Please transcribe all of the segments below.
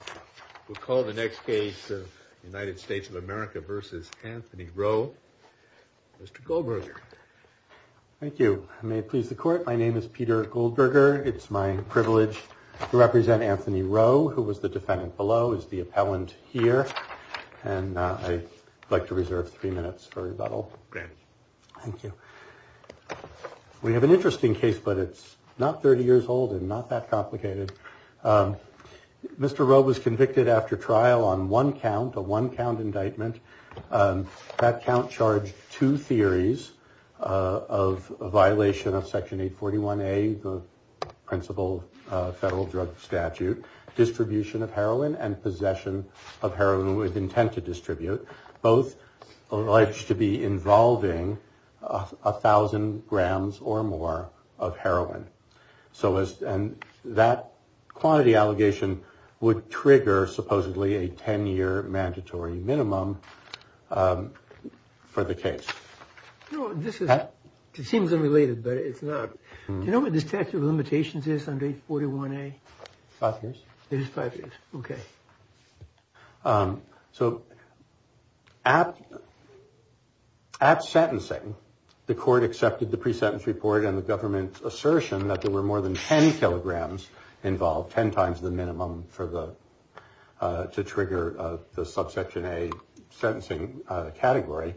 Thank you. May it please the court. My name is Peter Goldberger. It's my privilege to represent Anthony Rowe, who was the defendant below, is the appellant here, and I'd like to reserve three minutes for rebuttal. Thank you. We have an interesting case, but it's not 30 years old and not that complicated. Mr. Rowe was convicted after trial on one count, a one count indictment. That count charged two theories of a violation of Section 841A, the principal federal drug statute, distribution of heroin and possession of heroin with intent to distribute, both alleged to be involving a thousand grams or more of heroin. So and that quantity allegation would trigger supposedly a 10 year mandatory minimum for the case. It seems unrelated, but it's not. Do you know what the statute of limitations is under 841A? Five years. Okay. So at sentencing, the court accepted the pre-sentence report and the government's assertion that there were more than 10 kilograms involved, 10 times the minimum for the to trigger the subsection A sentencing category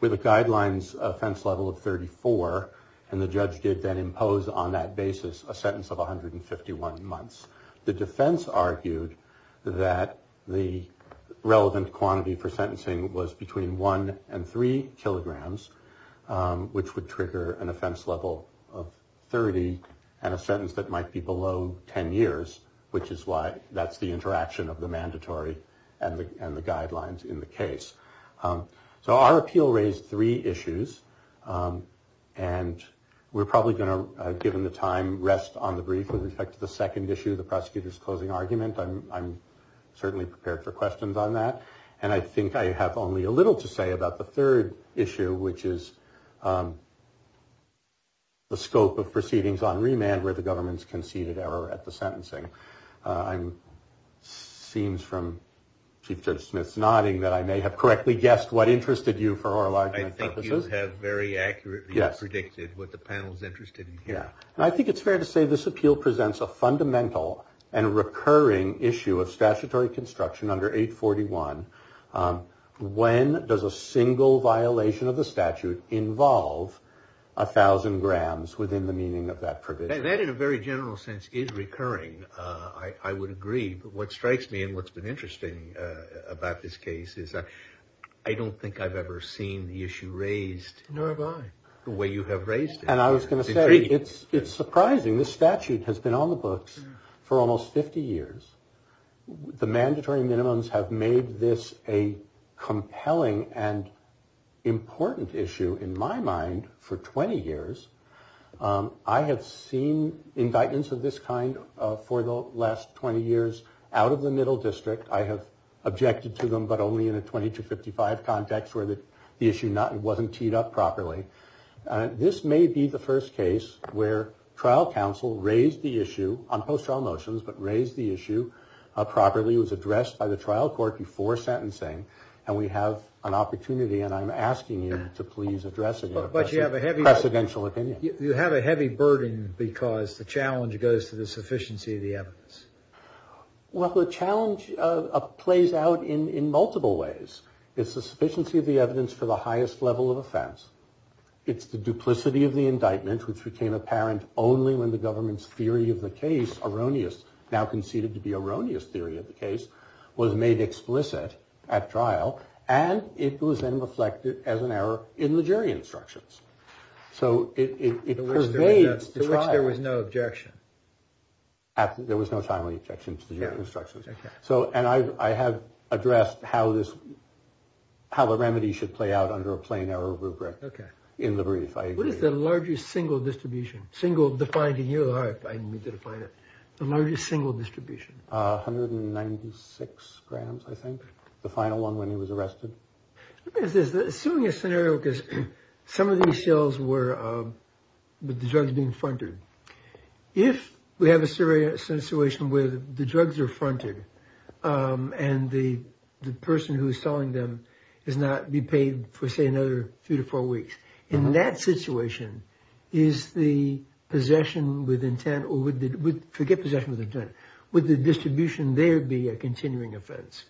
with a guidelines offense level of 34. And the judge did then impose on that basis a sentence of 151 months. The defense argued that the relevant quantity for sentencing was between one and three kilograms, which would trigger an offense level of 30 and a sentence that might be below 10 years, which is why that's the interaction of the mandatory and the guidelines in the case. So our appeal raised three issues, and we're probably going to, given the time, rest on the brief with respect to the second issue, the prosecutor's closing argument. I'm certainly prepared for questions on that. And I think I have only a little to say about the third issue, which is the scope of proceedings on remand where the government's conceded error at the sentencing. It seems from Chief Judge Smith's nodding that I may have correctly guessed what interested you for oral argument purposes. I think you have very accurately predicted what the panel's interested in hearing. Yeah. And I think it's fair to say this appeal presents a fundamental and recurring issue of statutory construction under 841. When does a single violation of the statute involve a thousand grams within the meaning of that provision? That in a very general sense is recurring, I would agree. But what strikes me and what's been interesting about this case is that I don't think I've ever seen the issue raised the way you have raised it. And I was going to say, it's surprising. This statute has been on the books for almost 50 years. The mandatory minimums have made this a compelling and important issue in my mind for 20 years. I have seen indictments of this kind for the last 20 years out of the middle district. I have objected to them, but only in a 2255 context where the issue wasn't teed up properly. This may be the first case where trial counsel raised the issue on post-trial motions, but raised the issue properly. It was addressed by the trial court before sentencing. And we have an opportunity, and I'm asking you to please address it as a precedential opinion. You have a heavy burden because the challenge goes to the sufficiency of the evidence. Well, the challenge plays out in multiple ways. It's the sufficiency of the evidence for the highest level of offense. It's the duplicity of the indictment, which became apparent only when the government's theory of the case, now conceded to be erroneous theory of the case, was made explicit at trial. And it was then reflected as an error in the jury instructions. So it pervades the trial. There was no objection. There was no timely objection to the jury instructions. And I have addressed how the remedy should play out under a plain error rubric in the brief. What is the largest single distribution, single defined in your life? I need to define it. The largest single distribution. 196 grams, I think. The final one when he was arrested. Assuming a scenario because some of these sales were with the drugs being fronted. If we have a serious situation where the drugs are fronted and the person who's selling them is not be paid for, say, another three to four weeks. In that situation, is the possession with intent or would the, forget possession with intent, would the distribution there be a continuing offense?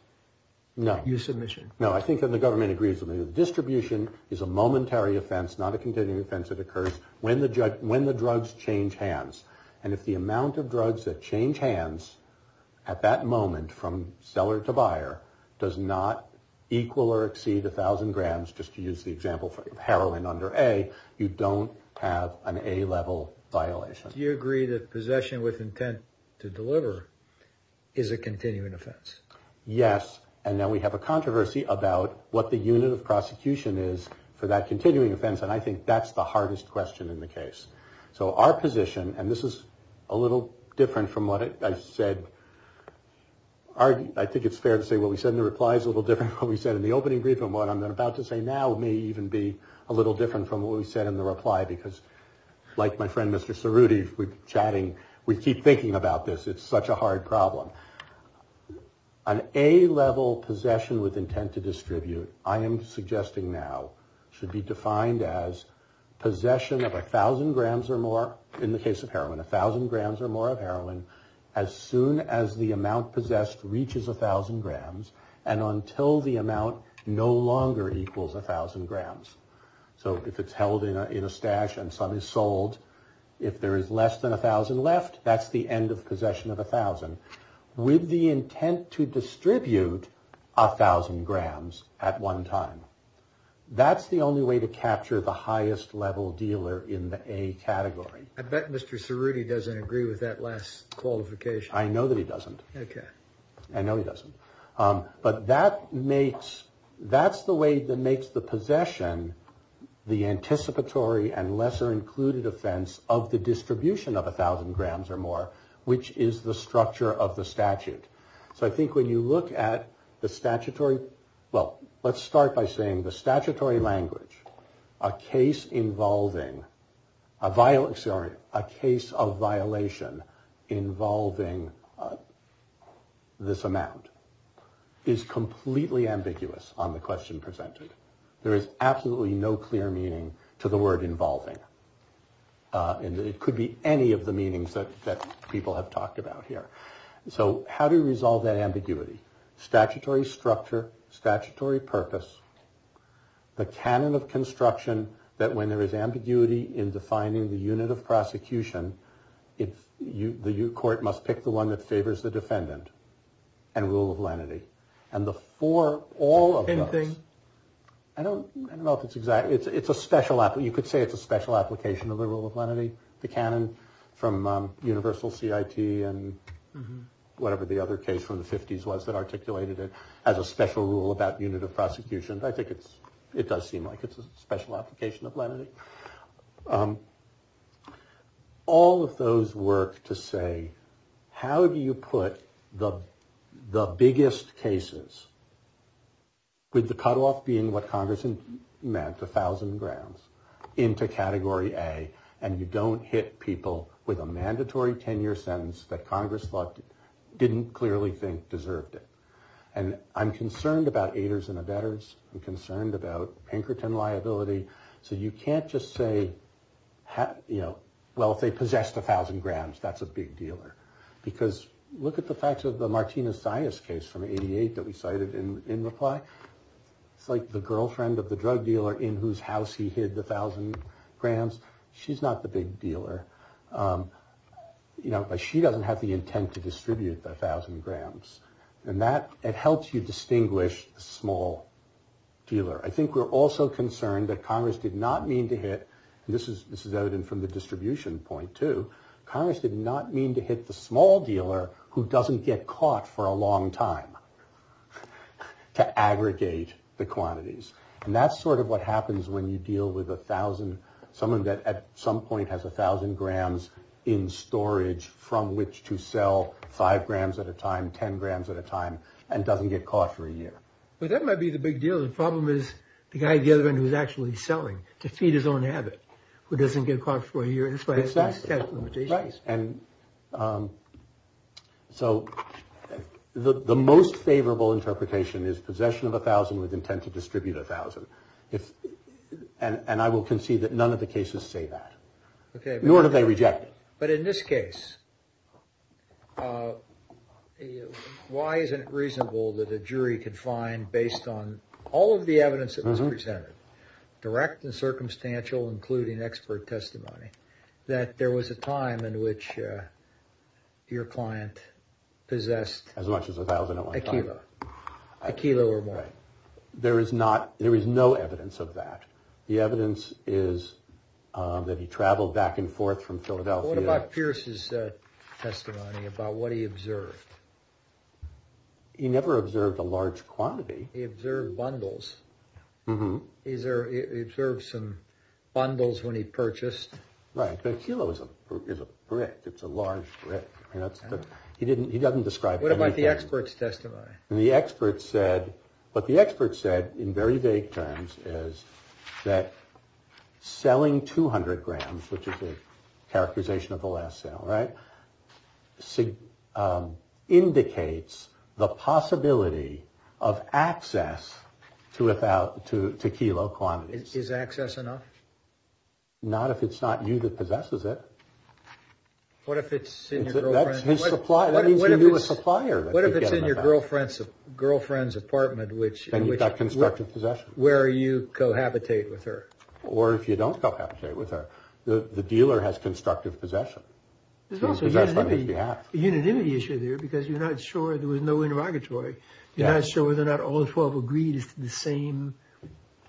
No. Your submission. No, I think that the government agrees with me. The distribution is a momentary offense, not a continuing offense. It occurs when the drugs change hands. And if the amount of drugs that change hands at that moment from seller to buyer does not equal or exceed a thousand grams, just to use the example of heroin under A, you don't have an A-level violation. Do you agree that possession with intent to deliver is a continuing offense? Yes. And now we have a controversy about what the unit of prosecution is for that continuing offense. And I think that's the hardest question in the case. So our position, and this is a little different from what I said. I think it's fair to say what we said in the reply is a little different from what we said in the opening brief and what I'm about to say now may even be a little different from what we said in the reply because like my friend Mr. Cerruti, we keep thinking about this. It's such a hard problem. An A-level possession with intent to distribute, I am suggesting now, should be defined as possession of a thousand grams or more, in the case of heroin, a thousand grams or more of heroin as soon as the amount possessed reaches a thousand grams and until the amount no longer equals a thousand grams. So if it's held in a stash and some is sold, if there is less than a thousand left, that's the end of possession of a thousand. With the intent to distribute a thousand grams at one time, that's the only way to capture the highest-level dealer in the A category. I bet Mr. Cerruti doesn't agree with that last qualification. I know that he doesn't. I know he doesn't. But that's the way that makes the possession the anticipatory and lesser-included offense of the distribution of a thousand grams or more, which is the structure of the statute. So I think when you look at the statutory, well, let's start by saying the statutory language, a case involving a violence or a case of violation involving this amount, is completely ambiguous on the question presented. There is absolutely no clear meaning to the word involving. And it could be any of the meanings that people have talked about here. So how do you resolve that ambiguity? Statutory structure, statutory purpose. The canon of construction that when there is ambiguity in defining the unit of prosecution, the court must pick the one that favors the defendant and rule of lenity. And the four, all of those. Anything? I don't know if it's exact. It's a special application. You could say it's a special application of the rule of lenity, the canon from Universal CIT and whatever the other case from the 50s was that articulated it as a special rule about unit of prosecution. I think it's it does seem like it's a special application of lenity. All of those work to say, how do you put the the biggest cases? With the cutoff being what Congress meant, a thousand grams into Category A, and you don't hit people with a mandatory 10-year sentence that Congress thought didn't clearly think deserved it. And I'm concerned about aiders and abettors. I'm concerned about Pinkerton liability. So you can't just say, you know, well, if they possessed a thousand grams, that's a big dealer. Because look at the facts of the Martinez-Zayas case from 88 that we cited in reply. It's like the girlfriend of the drug dealer in whose house he hid the thousand grams. She's not the big dealer, you know, but she doesn't have the intent to distribute the thousand grams. And that it helps you distinguish the small dealer. I think we're also concerned that Congress did not mean to hit. And this is this is evident from the distribution point to Congress did not mean to hit the small dealer who doesn't get caught for a long time to aggregate the quantities. And that's sort of what happens when you deal with a thousand, someone that at some point has a thousand grams in storage from which to sell five grams at a time, 10 grams at a time and doesn't get caught for a year. But that might be the big deal. The problem is the guy who's actually selling to feed his own habit, who doesn't get caught for a year. And so that's exactly right. And so the most favorable interpretation is possession of a thousand with intent to distribute a thousand. If and I will concede that none of the cases say that. OK. Nor do they reject. But in this case, why isn't it reasonable that a jury could find based on all of the evidence that was presented, direct and circumstantial, including expert testimony, that there was a time in which your client possessed as much as a thousand a kilo or more. There is not there is no evidence of that. The evidence is that he traveled back and forth from Philadelphia. What about Pierce's testimony about what he observed? He never observed a large quantity. He observed bundles. He observed some bundles when he purchased. Right. The kilo is a brick. It's a large brick. He didn't he doesn't describe. What about the experts testimony? The experts said what the experts said in very vague terms is that selling 200 grams, which is a characterization of the last sale, right? Indicates the possibility of access to without two kilo quantities. Is access enough? Not if it's not you that possesses it. What if it's a supplier? What if it's in your girlfriend's girlfriend's apartment? Where you cohabitate with her or if you don't cohabitate with her, the dealer has constructive possession. There's also a unanimity issue there because you're not sure there was no interrogatory. You're not sure whether or not all 12 agreed to the same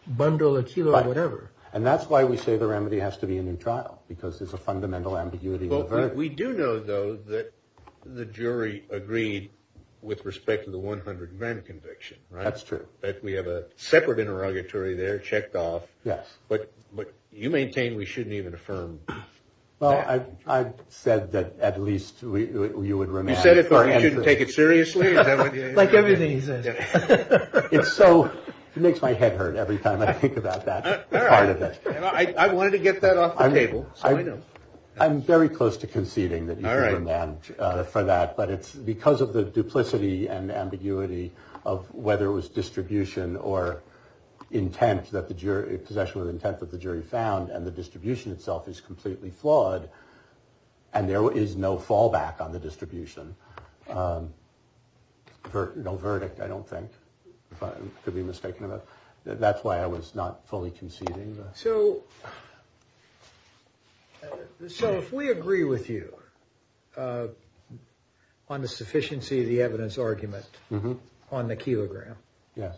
bundle, a kilo or whatever. And that's why we say the remedy has to be in trial, because there's a fundamental ambiguity. We do know, though, that the jury agreed with respect to the 100 grand conviction. That's true that we have a separate interrogatory. They're checked off. Yes. But you maintain we shouldn't even affirm. Well, I said that at least you would run. You said it. Or you didn't take it seriously. Like everything. It's so it makes my head hurt every time I think about that. I wanted to get that off the table. I know I'm very close to conceding that. All right. For that. But it's because of the duplicity and ambiguity of whether it was distribution or intent that the jury possession with intent that the jury found. And the distribution itself is completely flawed. And there is no fallback on the distribution. No verdict, I don't think could be mistaken. That's why I was not fully conceding. So. So if we agree with you on the sufficiency of the evidence argument on the kilogram. Yes.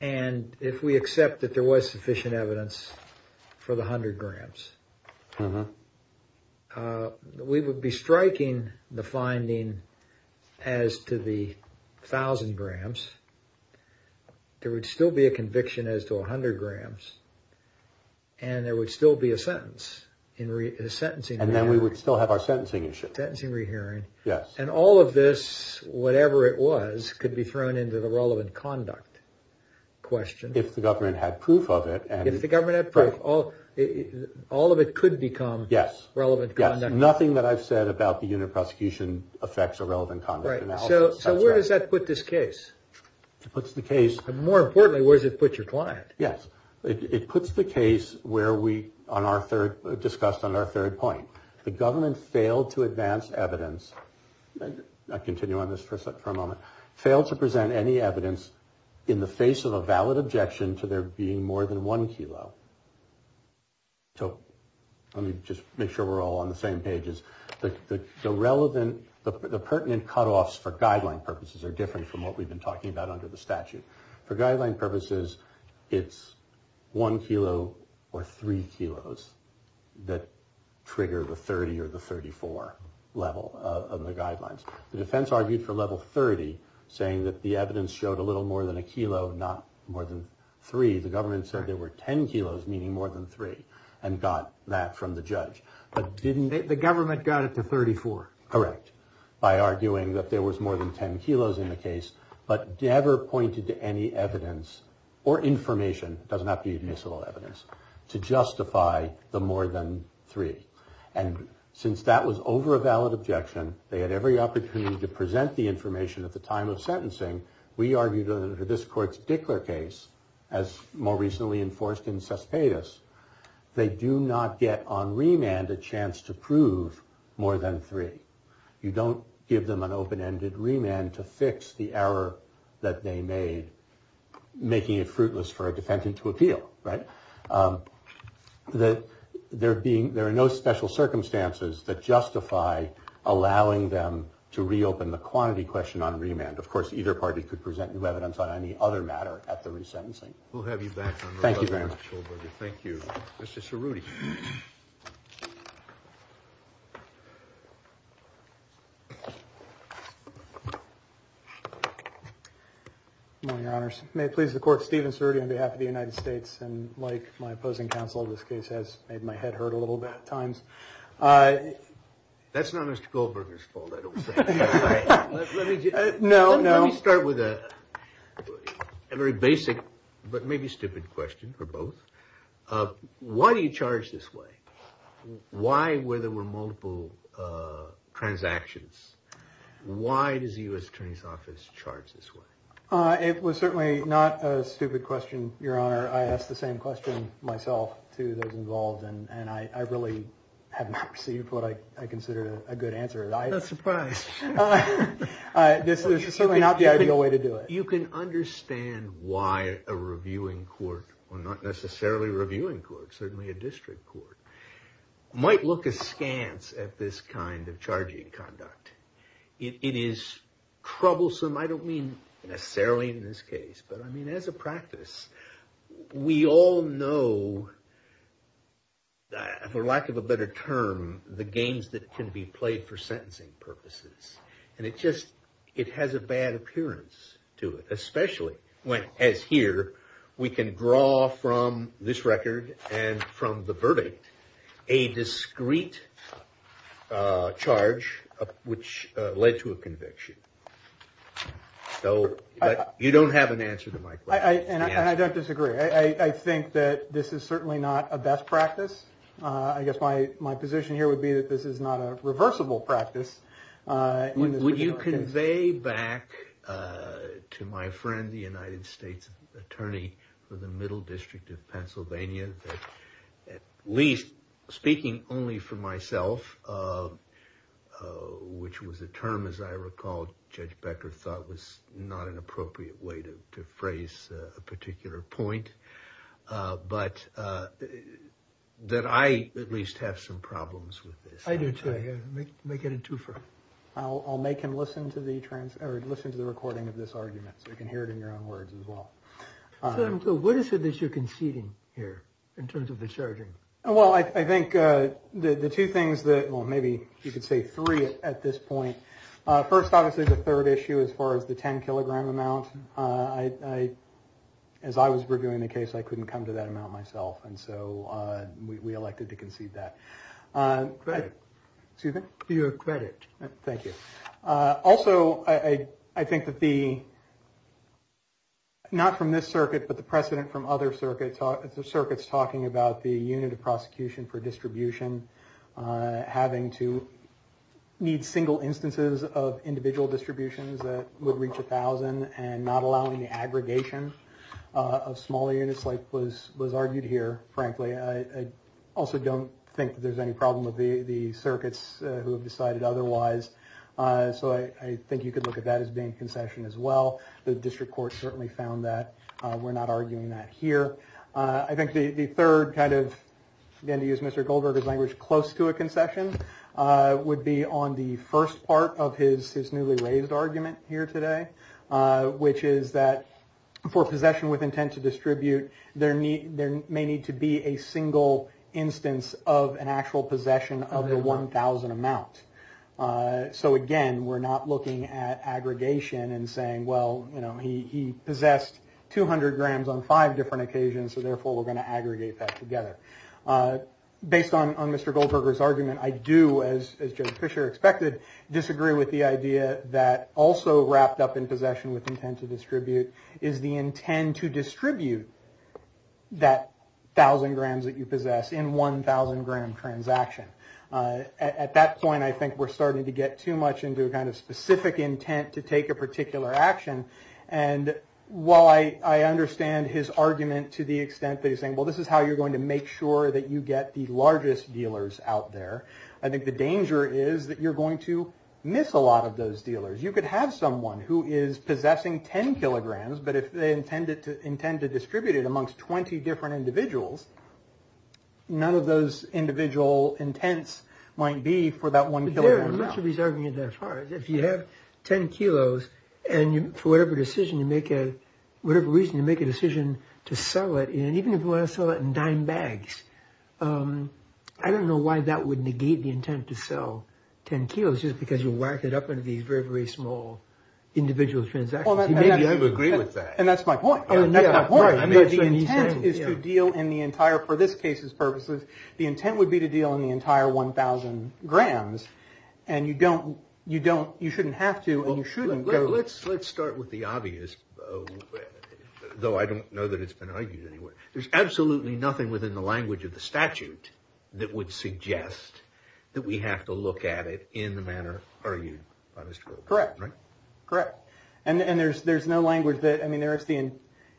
And if we accept that there was sufficient evidence for the 100 grams. We would be striking the finding as to the thousand grams. There would still be a conviction as to 100 grams. And there would still be a sentence in the sentencing. And then we would still have our sentencing. Sentencing, rehearing. Yes. And all of this, whatever it was, could be thrown into the relevant conduct question. If the government had proof of it. And if the government had proof, all of it could become. Yes. Relevant. Nothing that I've said about the unit prosecution affects a relevant conduct. So where does that put this case? What's the case? More importantly, where does it put your client? Yes. It puts the case where we on our third discussed on our third point. The government failed to advance evidence. I continue on this for a moment. Failed to present any evidence in the face of a valid objection to there being more than one kilo. So let me just make sure we're all on the same pages. The relevant the pertinent cutoffs for guideline purposes are different from what we've been talking about under the statute. For guideline purposes, it's one kilo or three kilos that trigger the 30 or the 34 level of the guidelines. The defense argued for level 30, saying that the evidence showed a little more than a kilo, not more than three. The government said there were 10 kilos, meaning more than three, and got that from the judge. But didn't the government got it to 34? Correct. By arguing that there was more than 10 kilos in the case. But never pointed to any evidence or information. Doesn't have to be admissible evidence to justify the more than three. And since that was over a valid objection, they had every opportunity to present the information at the time of sentencing. We argued under this court's Dickler case, as more recently enforced in cesspitas. They do not get on remand a chance to prove more than three. You don't give them an open ended remand to fix the error that they made, making it fruitless for a defendant to appeal. Right. That there being there are no special circumstances that justify allowing them to reopen the quantity question on remand. Of course, either party could present new evidence on any other matter at the resentencing. We'll have you back. Thank you very much. Thank you, Mr. Cerruti. Your Honors, may it please the court, Stephen Cerruti on behalf of the United States. And like my opposing counsel, this case has made my head hurt a little bit at times. That's not Mr. Goldberger's fault, I don't think. No, no. Let me start with a very basic but maybe stupid question for both. Why do you charge this way? Why were there were multiple transactions? Why does the U.S. Attorney's Office charge this way? It was certainly not a stupid question, Your Honor. I asked the same question myself to those involved. And I really have not received what I consider a good answer. I'm not surprised. This is certainly not the ideal way to do it. You can understand why a reviewing court or not necessarily reviewing court, certainly a district court, might look askance at this kind of charging conduct. It is troublesome. I don't mean necessarily in this case, but I mean, as a practice, we all know. For lack of a better term, the games that can be played for sentencing purposes. And it just, it has a bad appearance to it, especially when, as here, we can draw from this record and from the verdict, a discreet charge which led to a conviction. So you don't have an answer to my question. And I don't disagree. I think that this is certainly not a best practice. I guess my my position here would be that this is not a reversible practice. Would you convey back to my friend, the United States Attorney for the Middle District of Pennsylvania, that at least speaking only for myself, which was a term, as I recall, Judge Becker thought was not an appropriate way to phrase a particular point. But that I at least have some problems with this. I do, too. Make it a twofer. I'll make him listen to the trans or listen to the recording of this argument. So you can hear it in your own words as well. So what is it that you're conceding here in terms of the charging? Well, I think the two things that maybe you could say three at this point. First, obviously, the third issue, as far as the 10 kilogram amount, I, as I was reviewing the case, I couldn't come to that amount myself. And so we elected to concede that. To your credit. Thank you. Also, I think that the. Not from this circuit, but the precedent from other circuits, the circuits talking about the unit of prosecution for distribution, having to need single instances of individual distributions that would reach a thousand and not allowing the aggregation of small units like was was argued here. Frankly, I also don't think there's any problem with the circuits who have decided otherwise. So I think you could look at that as being concession as well. The district court certainly found that we're not arguing that here. I think the third kind of then to use Mr. Goldberger's language close to a concession would be on the first part of his his newly raised argument here today, which is that for possession with intent to distribute their need, there may need to be a single instance of an actual possession of the one thousand amount. So, again, we're not looking at aggregation and saying, well, you know, he possessed 200 grams on five different occasions. So therefore, we're going to aggregate that together based on Mr. Goldberger's argument. I do, as Joe Fisher expected, disagree with the idea that also wrapped up in possession with intent to distribute is the intent to distribute that thousand grams that you possess in one thousand gram transaction. At that point, I think we're starting to get too much into a kind of specific intent to take a particular action. And while I understand his argument to the extent that he's saying, well, this is how you're going to make sure that you get the largest dealers out there. I think the danger is that you're going to miss a lot of those dealers. You could have someone who is possessing 10 kilograms. But if they intended to intend to distribute it amongst 20 different individuals, none of those individual intents might be for that one. If you have 10 kilos and for whatever decision you make, whatever reason you make a decision to sell it. And even if you want to sell it in dime bags, I don't know why that would negate the intent to sell 10 kilos just because you whack it up into these very, very small individual transactions. And that's my point. The intent is to deal in the entire for this case's purposes. The intent would be to deal in the entire one thousand grams. And you don't you don't you shouldn't have to. And you shouldn't. Let's let's start with the obvious, though. I don't know that it's been argued anywhere. There's absolutely nothing within the language of the statute that would suggest that we have to look at it in the manner. Correct. Correct. And there's there's no language that I mean, there is the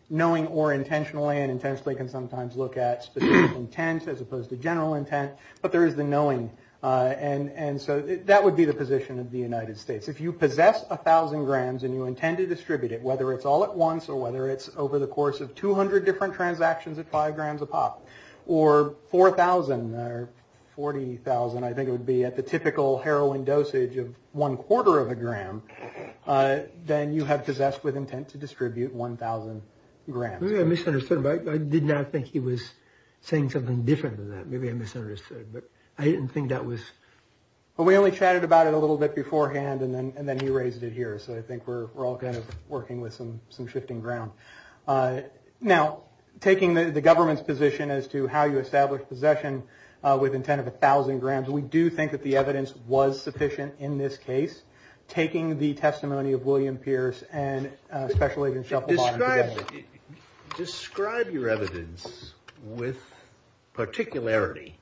knowing or intentionally and intentionally can sometimes look at specific intent as opposed to general intent. But there is the knowing. And so that would be the position of the United States. If you possess a thousand grams and you intend to distribute it, whether it's all at once or whether it's over the course of 200 different transactions at five grams a pop or four thousand or forty thousand. I think it would be at the typical heroin dosage of one quarter of a gram. Then you have possessed with intent to distribute one thousand grams. I misunderstood. I did not think he was saying something different than that. Maybe I misunderstood. But I didn't think that was. But we only chatted about it a little bit beforehand. And then and then he raised it here. So I think we're all kind of working with some some shifting ground now, taking the government's position as to how you establish possession with intent of a thousand grams. We do think that the evidence was sufficient in this case. Taking the testimony of William Pierce and special agents. Describe your evidence with particularity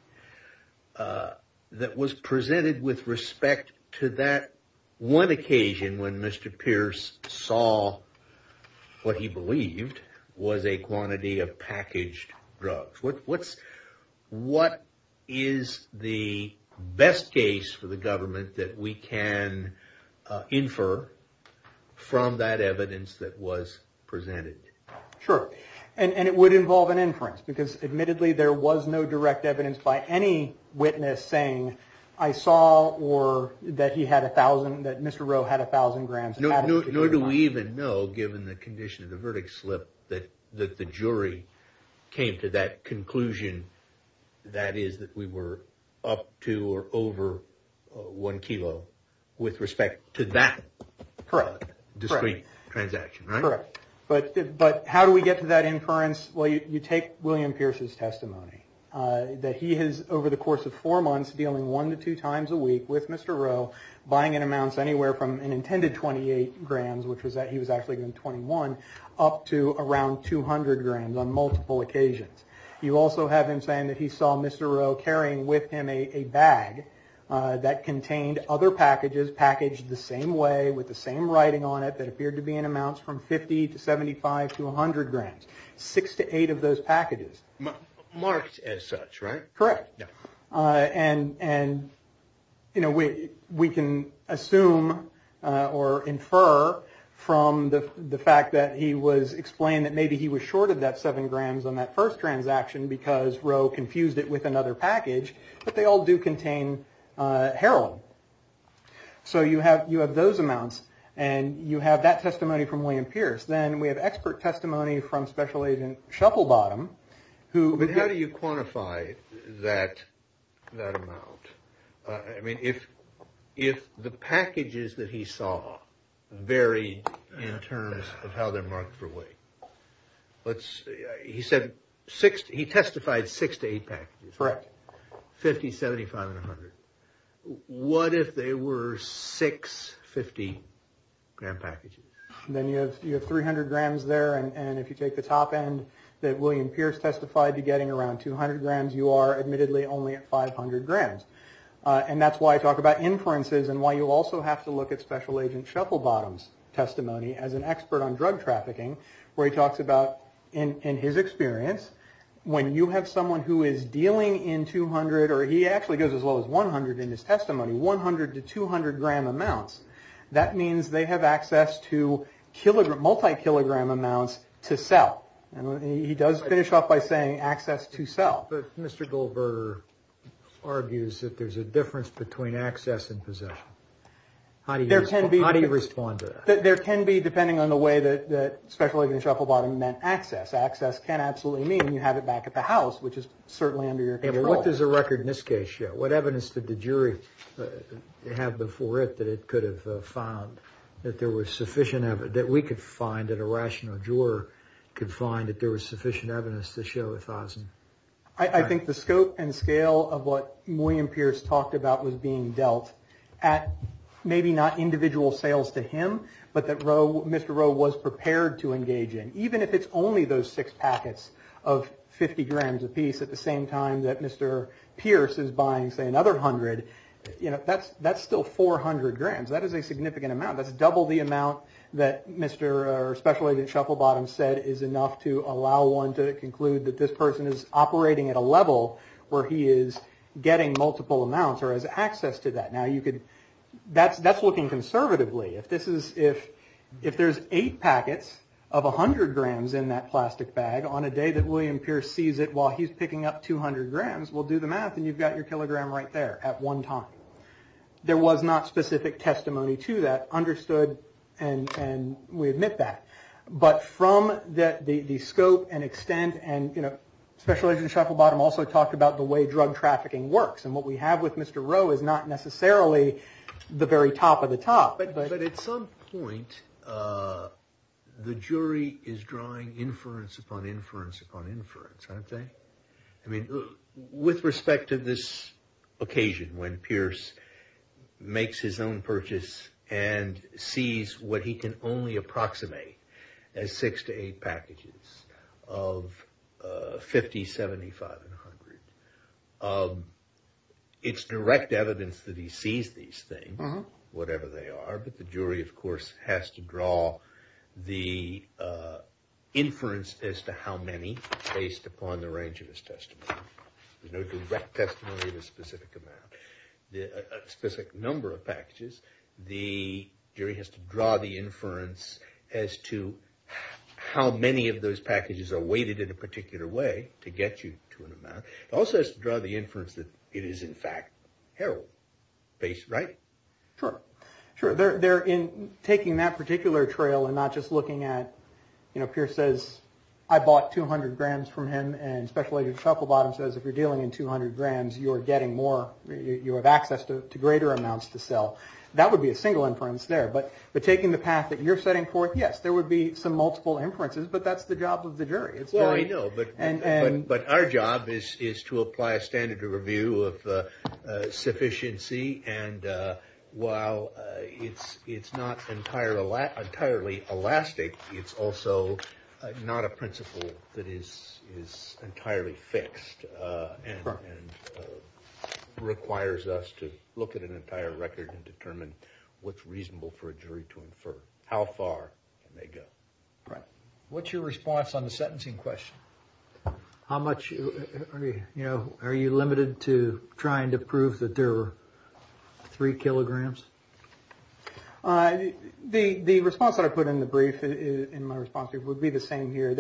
that was presented with respect to that one occasion when Mr. Pierce saw what he believed was a quantity of packaged drugs. What is the best case for the government that we can infer from that evidence that was presented? Sure. And it would involve an inference because admittedly there was no direct evidence by any witness saying I saw or that he had a thousand that Mr. Rowe had a thousand grams. Nor do we even know, given the condition of the verdict slip, that that the jury came to that conclusion. That is that we were up to or over one kilo with respect to that. Correct. Discreet transaction. Correct. But but how do we get to that inference? Well, you take William Pierce's testimony that he has over the course of four months dealing one to two times a week with Mr. Rowe, buying in amounts anywhere from an intended 28 grams, which was that he was actually going 21 up to around 200 grams on multiple occasions. You also have him saying that he saw Mr. Rowe carrying with him a bag that contained other packages packaged the same way with the same writing on it that appeared to be in amounts from 50 to 75 to 100 grams. Six to eight of those packages marked as such. Correct. And and, you know, we we can assume or infer from the fact that he was explained that maybe he was short of that seven grams on that first transaction because Rowe confused it with another package. But they all do contain heroin. So you have you have those amounts and you have that testimony from William Pierce. Then we have expert testimony from Special Agent Shufflebottom who. But how do you quantify that? That amount? I mean, if if the packages that he saw vary in terms of how they're marked for weight, let's say he said six. He testified six to eight packages. Correct. Fifty, seventy five and a hundred. What if they were 650 gram packages? Then you have you have 300 grams there. And if you take the top end that William Pierce testified to getting around 200 grams, you are admittedly only at 500 grams. And that's why I talk about inferences and why you also have to look at Special Agent Shufflebottom's testimony as an expert on drug trafficking, where he talks about in his experience. When you have someone who is dealing in 200 or he actually goes as low as 100 in his testimony, 100 to 200 gram amounts. That means they have access to kilogram, multi kilogram amounts to sell. And he does finish off by saying access to sell. But Mr. Goldberg argues that there's a difference between access and possession. How do you respond to that? There can be depending on the way that Special Agent Shufflebottom meant access. Access can absolutely mean you have it back at the house, which is certainly under your control. What does a record in this case show? What evidence did the jury have before it that it could have found that there was sufficient of it that we could find that a rational juror could find that there was sufficient evidence to show a thousand? I think the scope and scale of what William Pierce talked about was being dealt at maybe not individual sales to him, but that Mr. Goldberg was prepared to engage in. Even if it's only those six packets of 50 grams apiece at the same time that Mr. Pierce is buying, say, another hundred, that's still 400 grams. That is a significant amount. That's double the amount that Special Agent Shufflebottom said is enough to allow one to conclude that this person is operating at a level where he is getting multiple amounts or has access to that. Now, that's looking conservatively. If there's eight packets of 100 grams in that plastic bag on a day that William Pierce sees it while he's picking up 200 grams, well, do the math and you've got your kilogram right there at one time. There was not specific testimony to that understood, and we admit that. But from the scope and extent, and Special Agent Shufflebottom also talked about the way drug trafficking works, and what we have with Mr. Rowe is not necessarily the very top of the top. But at some point, the jury is drawing inference upon inference upon inference, aren't they? I mean, with respect to this occasion when Pierce makes his own purchase and sees what he can only approximate as six to eight packages of 50, 75, and 100, it's direct evidence that he sees these things, whatever they are. But the jury, of course, has to draw the inference as to how many based upon the range of his testimony. There's no direct testimony of a specific amount, a specific number of packages. The jury has to draw the inference as to how many of those packages are weighted in a particular way to get you to an amount. It also has to draw the inference that it is, in fact, heroin-based, right? Sure. Sure. They're taking that particular trail and not just looking at, you know, Pierce says, I bought 200 grams from him, and Special Agent Shufflebottom says, if you're dealing in 200 grams, you're getting more, you have access to greater amounts to sell. That would be a single inference there. But taking the path that you're setting forth, yes, there would be some multiple inferences, but that's the job of the jury. Well, I know, but our job is to apply a standard of review of sufficiency, and while it's not entirely elastic, it's also not a principle that is entirely fixed and requires us to look at an entire record and determine what's reasonable for a jury to infer. How far can they go? Right. What's your response on the sentencing question? How much, you know, are you limited to trying to prove that there are three kilograms? The response that I put in the brief in my response would be the same here.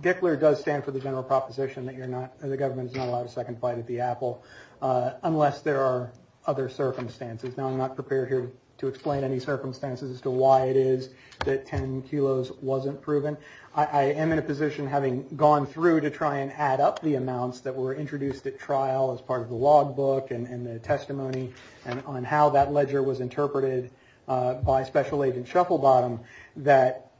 DICLR does stand for the general proposition that the government is not allowed a second bite at the apple unless there are other circumstances. Now, I'm not prepared here to explain any circumstances as to why it is that 10 kilos wasn't proven. I am in a position, having gone through to try and add up the amounts that were introduced at trial as part of the logbook and the testimony on how that ledger was interpreted by Special Agent Shufflebottom, that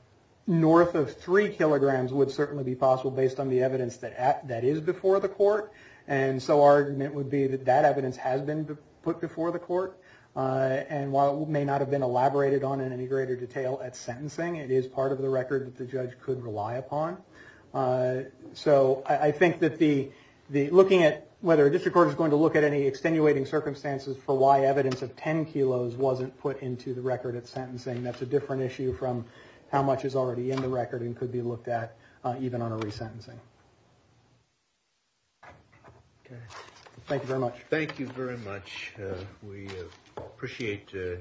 north of three kilograms would certainly be possible based on the evidence that is before the court. And so our argument would be that that evidence has been put before the court, and while it may not have been elaborated on in any greater detail at sentencing, it is part of the record that the judge could rely upon. So I think that looking at whether a district court is going to look at any extenuating circumstances for why evidence of 10 kilos wasn't put into the record at sentencing, that's a different issue from how much is already in the record and could be looked at even on a resentencing. Okay. Thank you very much. Thank you very much. We appreciate your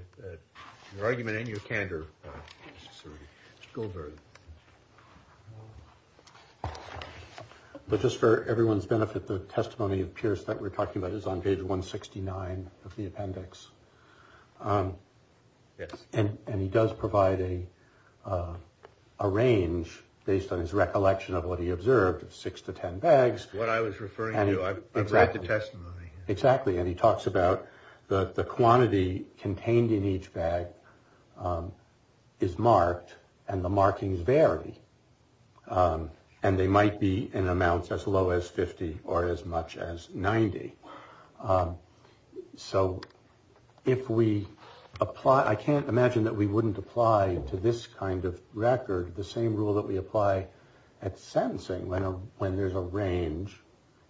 argument and your candor. But just for everyone's benefit, the testimony of Pierce that we're talking about is on page 169 of the appendix. And he does provide a range based on his recollection of what he observed of six to 10 bags. What I was referring to, I've read the testimony. Exactly. And he talks about the quantity contained in each bag is marked, and the markings vary. And they might be in amounts as low as 50 or as much as 90. So if we apply, I can't imagine that we wouldn't apply to this kind of record, the same rule that we apply at sentencing when there's a range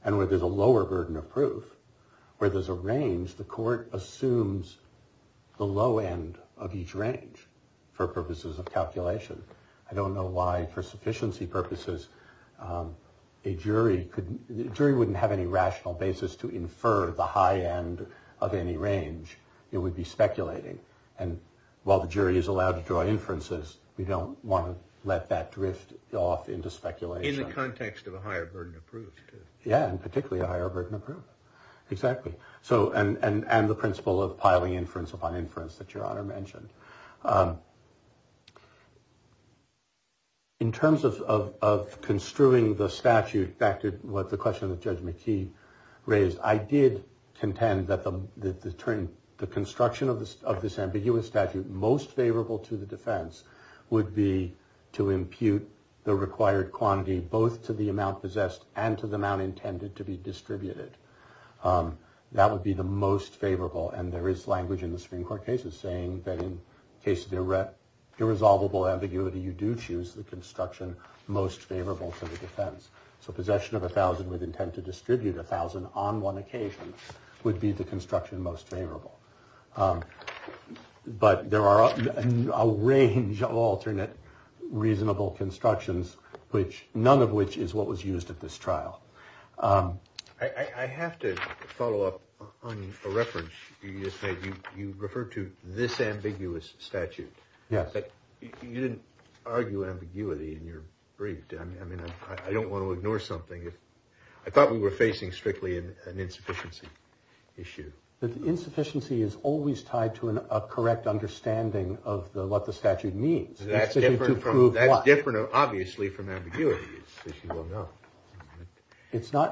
and where there's a lower burden of proof. Where there's a range, the court assumes the low end of each range for purposes of calculation. I don't know why, for sufficiency purposes, a jury wouldn't have any rational basis to infer the high end of any range. It would be speculating. And while the jury is allowed to draw inferences, we don't want to let that drift off into speculation. In the context of a higher burden of proof. Yeah, and particularly a higher burden of proof. Exactly. And the principle of piling inference upon inference that Your Honor mentioned. In terms of construing the statute back to the question that Judge McKee raised, I did contend that the construction of this ambiguous statute, most favorable to the defense, would be to impute the required quantity both to the amount possessed and to the amount intended to be distributed. That would be the most favorable. And there is language in the Supreme Court cases saying that in case of direct irresolvable ambiguity, you do choose the construction most favorable for the defense. So possession of a thousand with intent to distribute a thousand on one occasion would be the construction most favorable. But there are a range of alternate reasonable constructions, which none of which is what was used at this trial. I have to follow up on a reference you just made. You refer to this ambiguous statute. Yeah, but you didn't argue ambiguity in your brief. I mean, I don't want to ignore something. I thought we were facing strictly an insufficiency issue. Insufficiency is always tied to a correct understanding of what the statute means. That's different, obviously, from ambiguity, as you well know.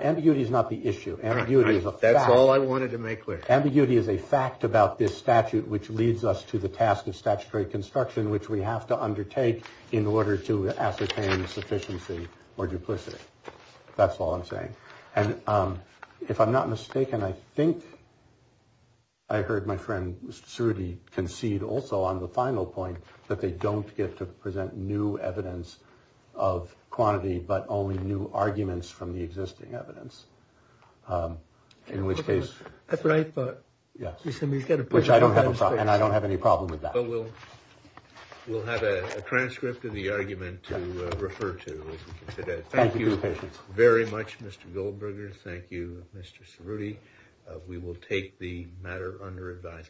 Ambiguity is not the issue. Ambiguity is a fact. That's all I wanted to make clear. Ambiguity is a fact about this statute, which leads us to the task of statutory construction, which we have to undertake in order to ascertain sufficiency or duplicity. That's all I'm saying. And if I'm not mistaken, I think. I heard my friend was certainly concede also on the final point that they don't get to present new evidence of quantity, but only new arguments from the existing evidence, in which case that's right. But you said we've got to push. I don't have. And I don't have any problem with that. We'll have a transcript of the argument to refer to. Thank you very much, Mr. Goldberger. Thank you, Mr. Rudy. We will take the matter under advisement.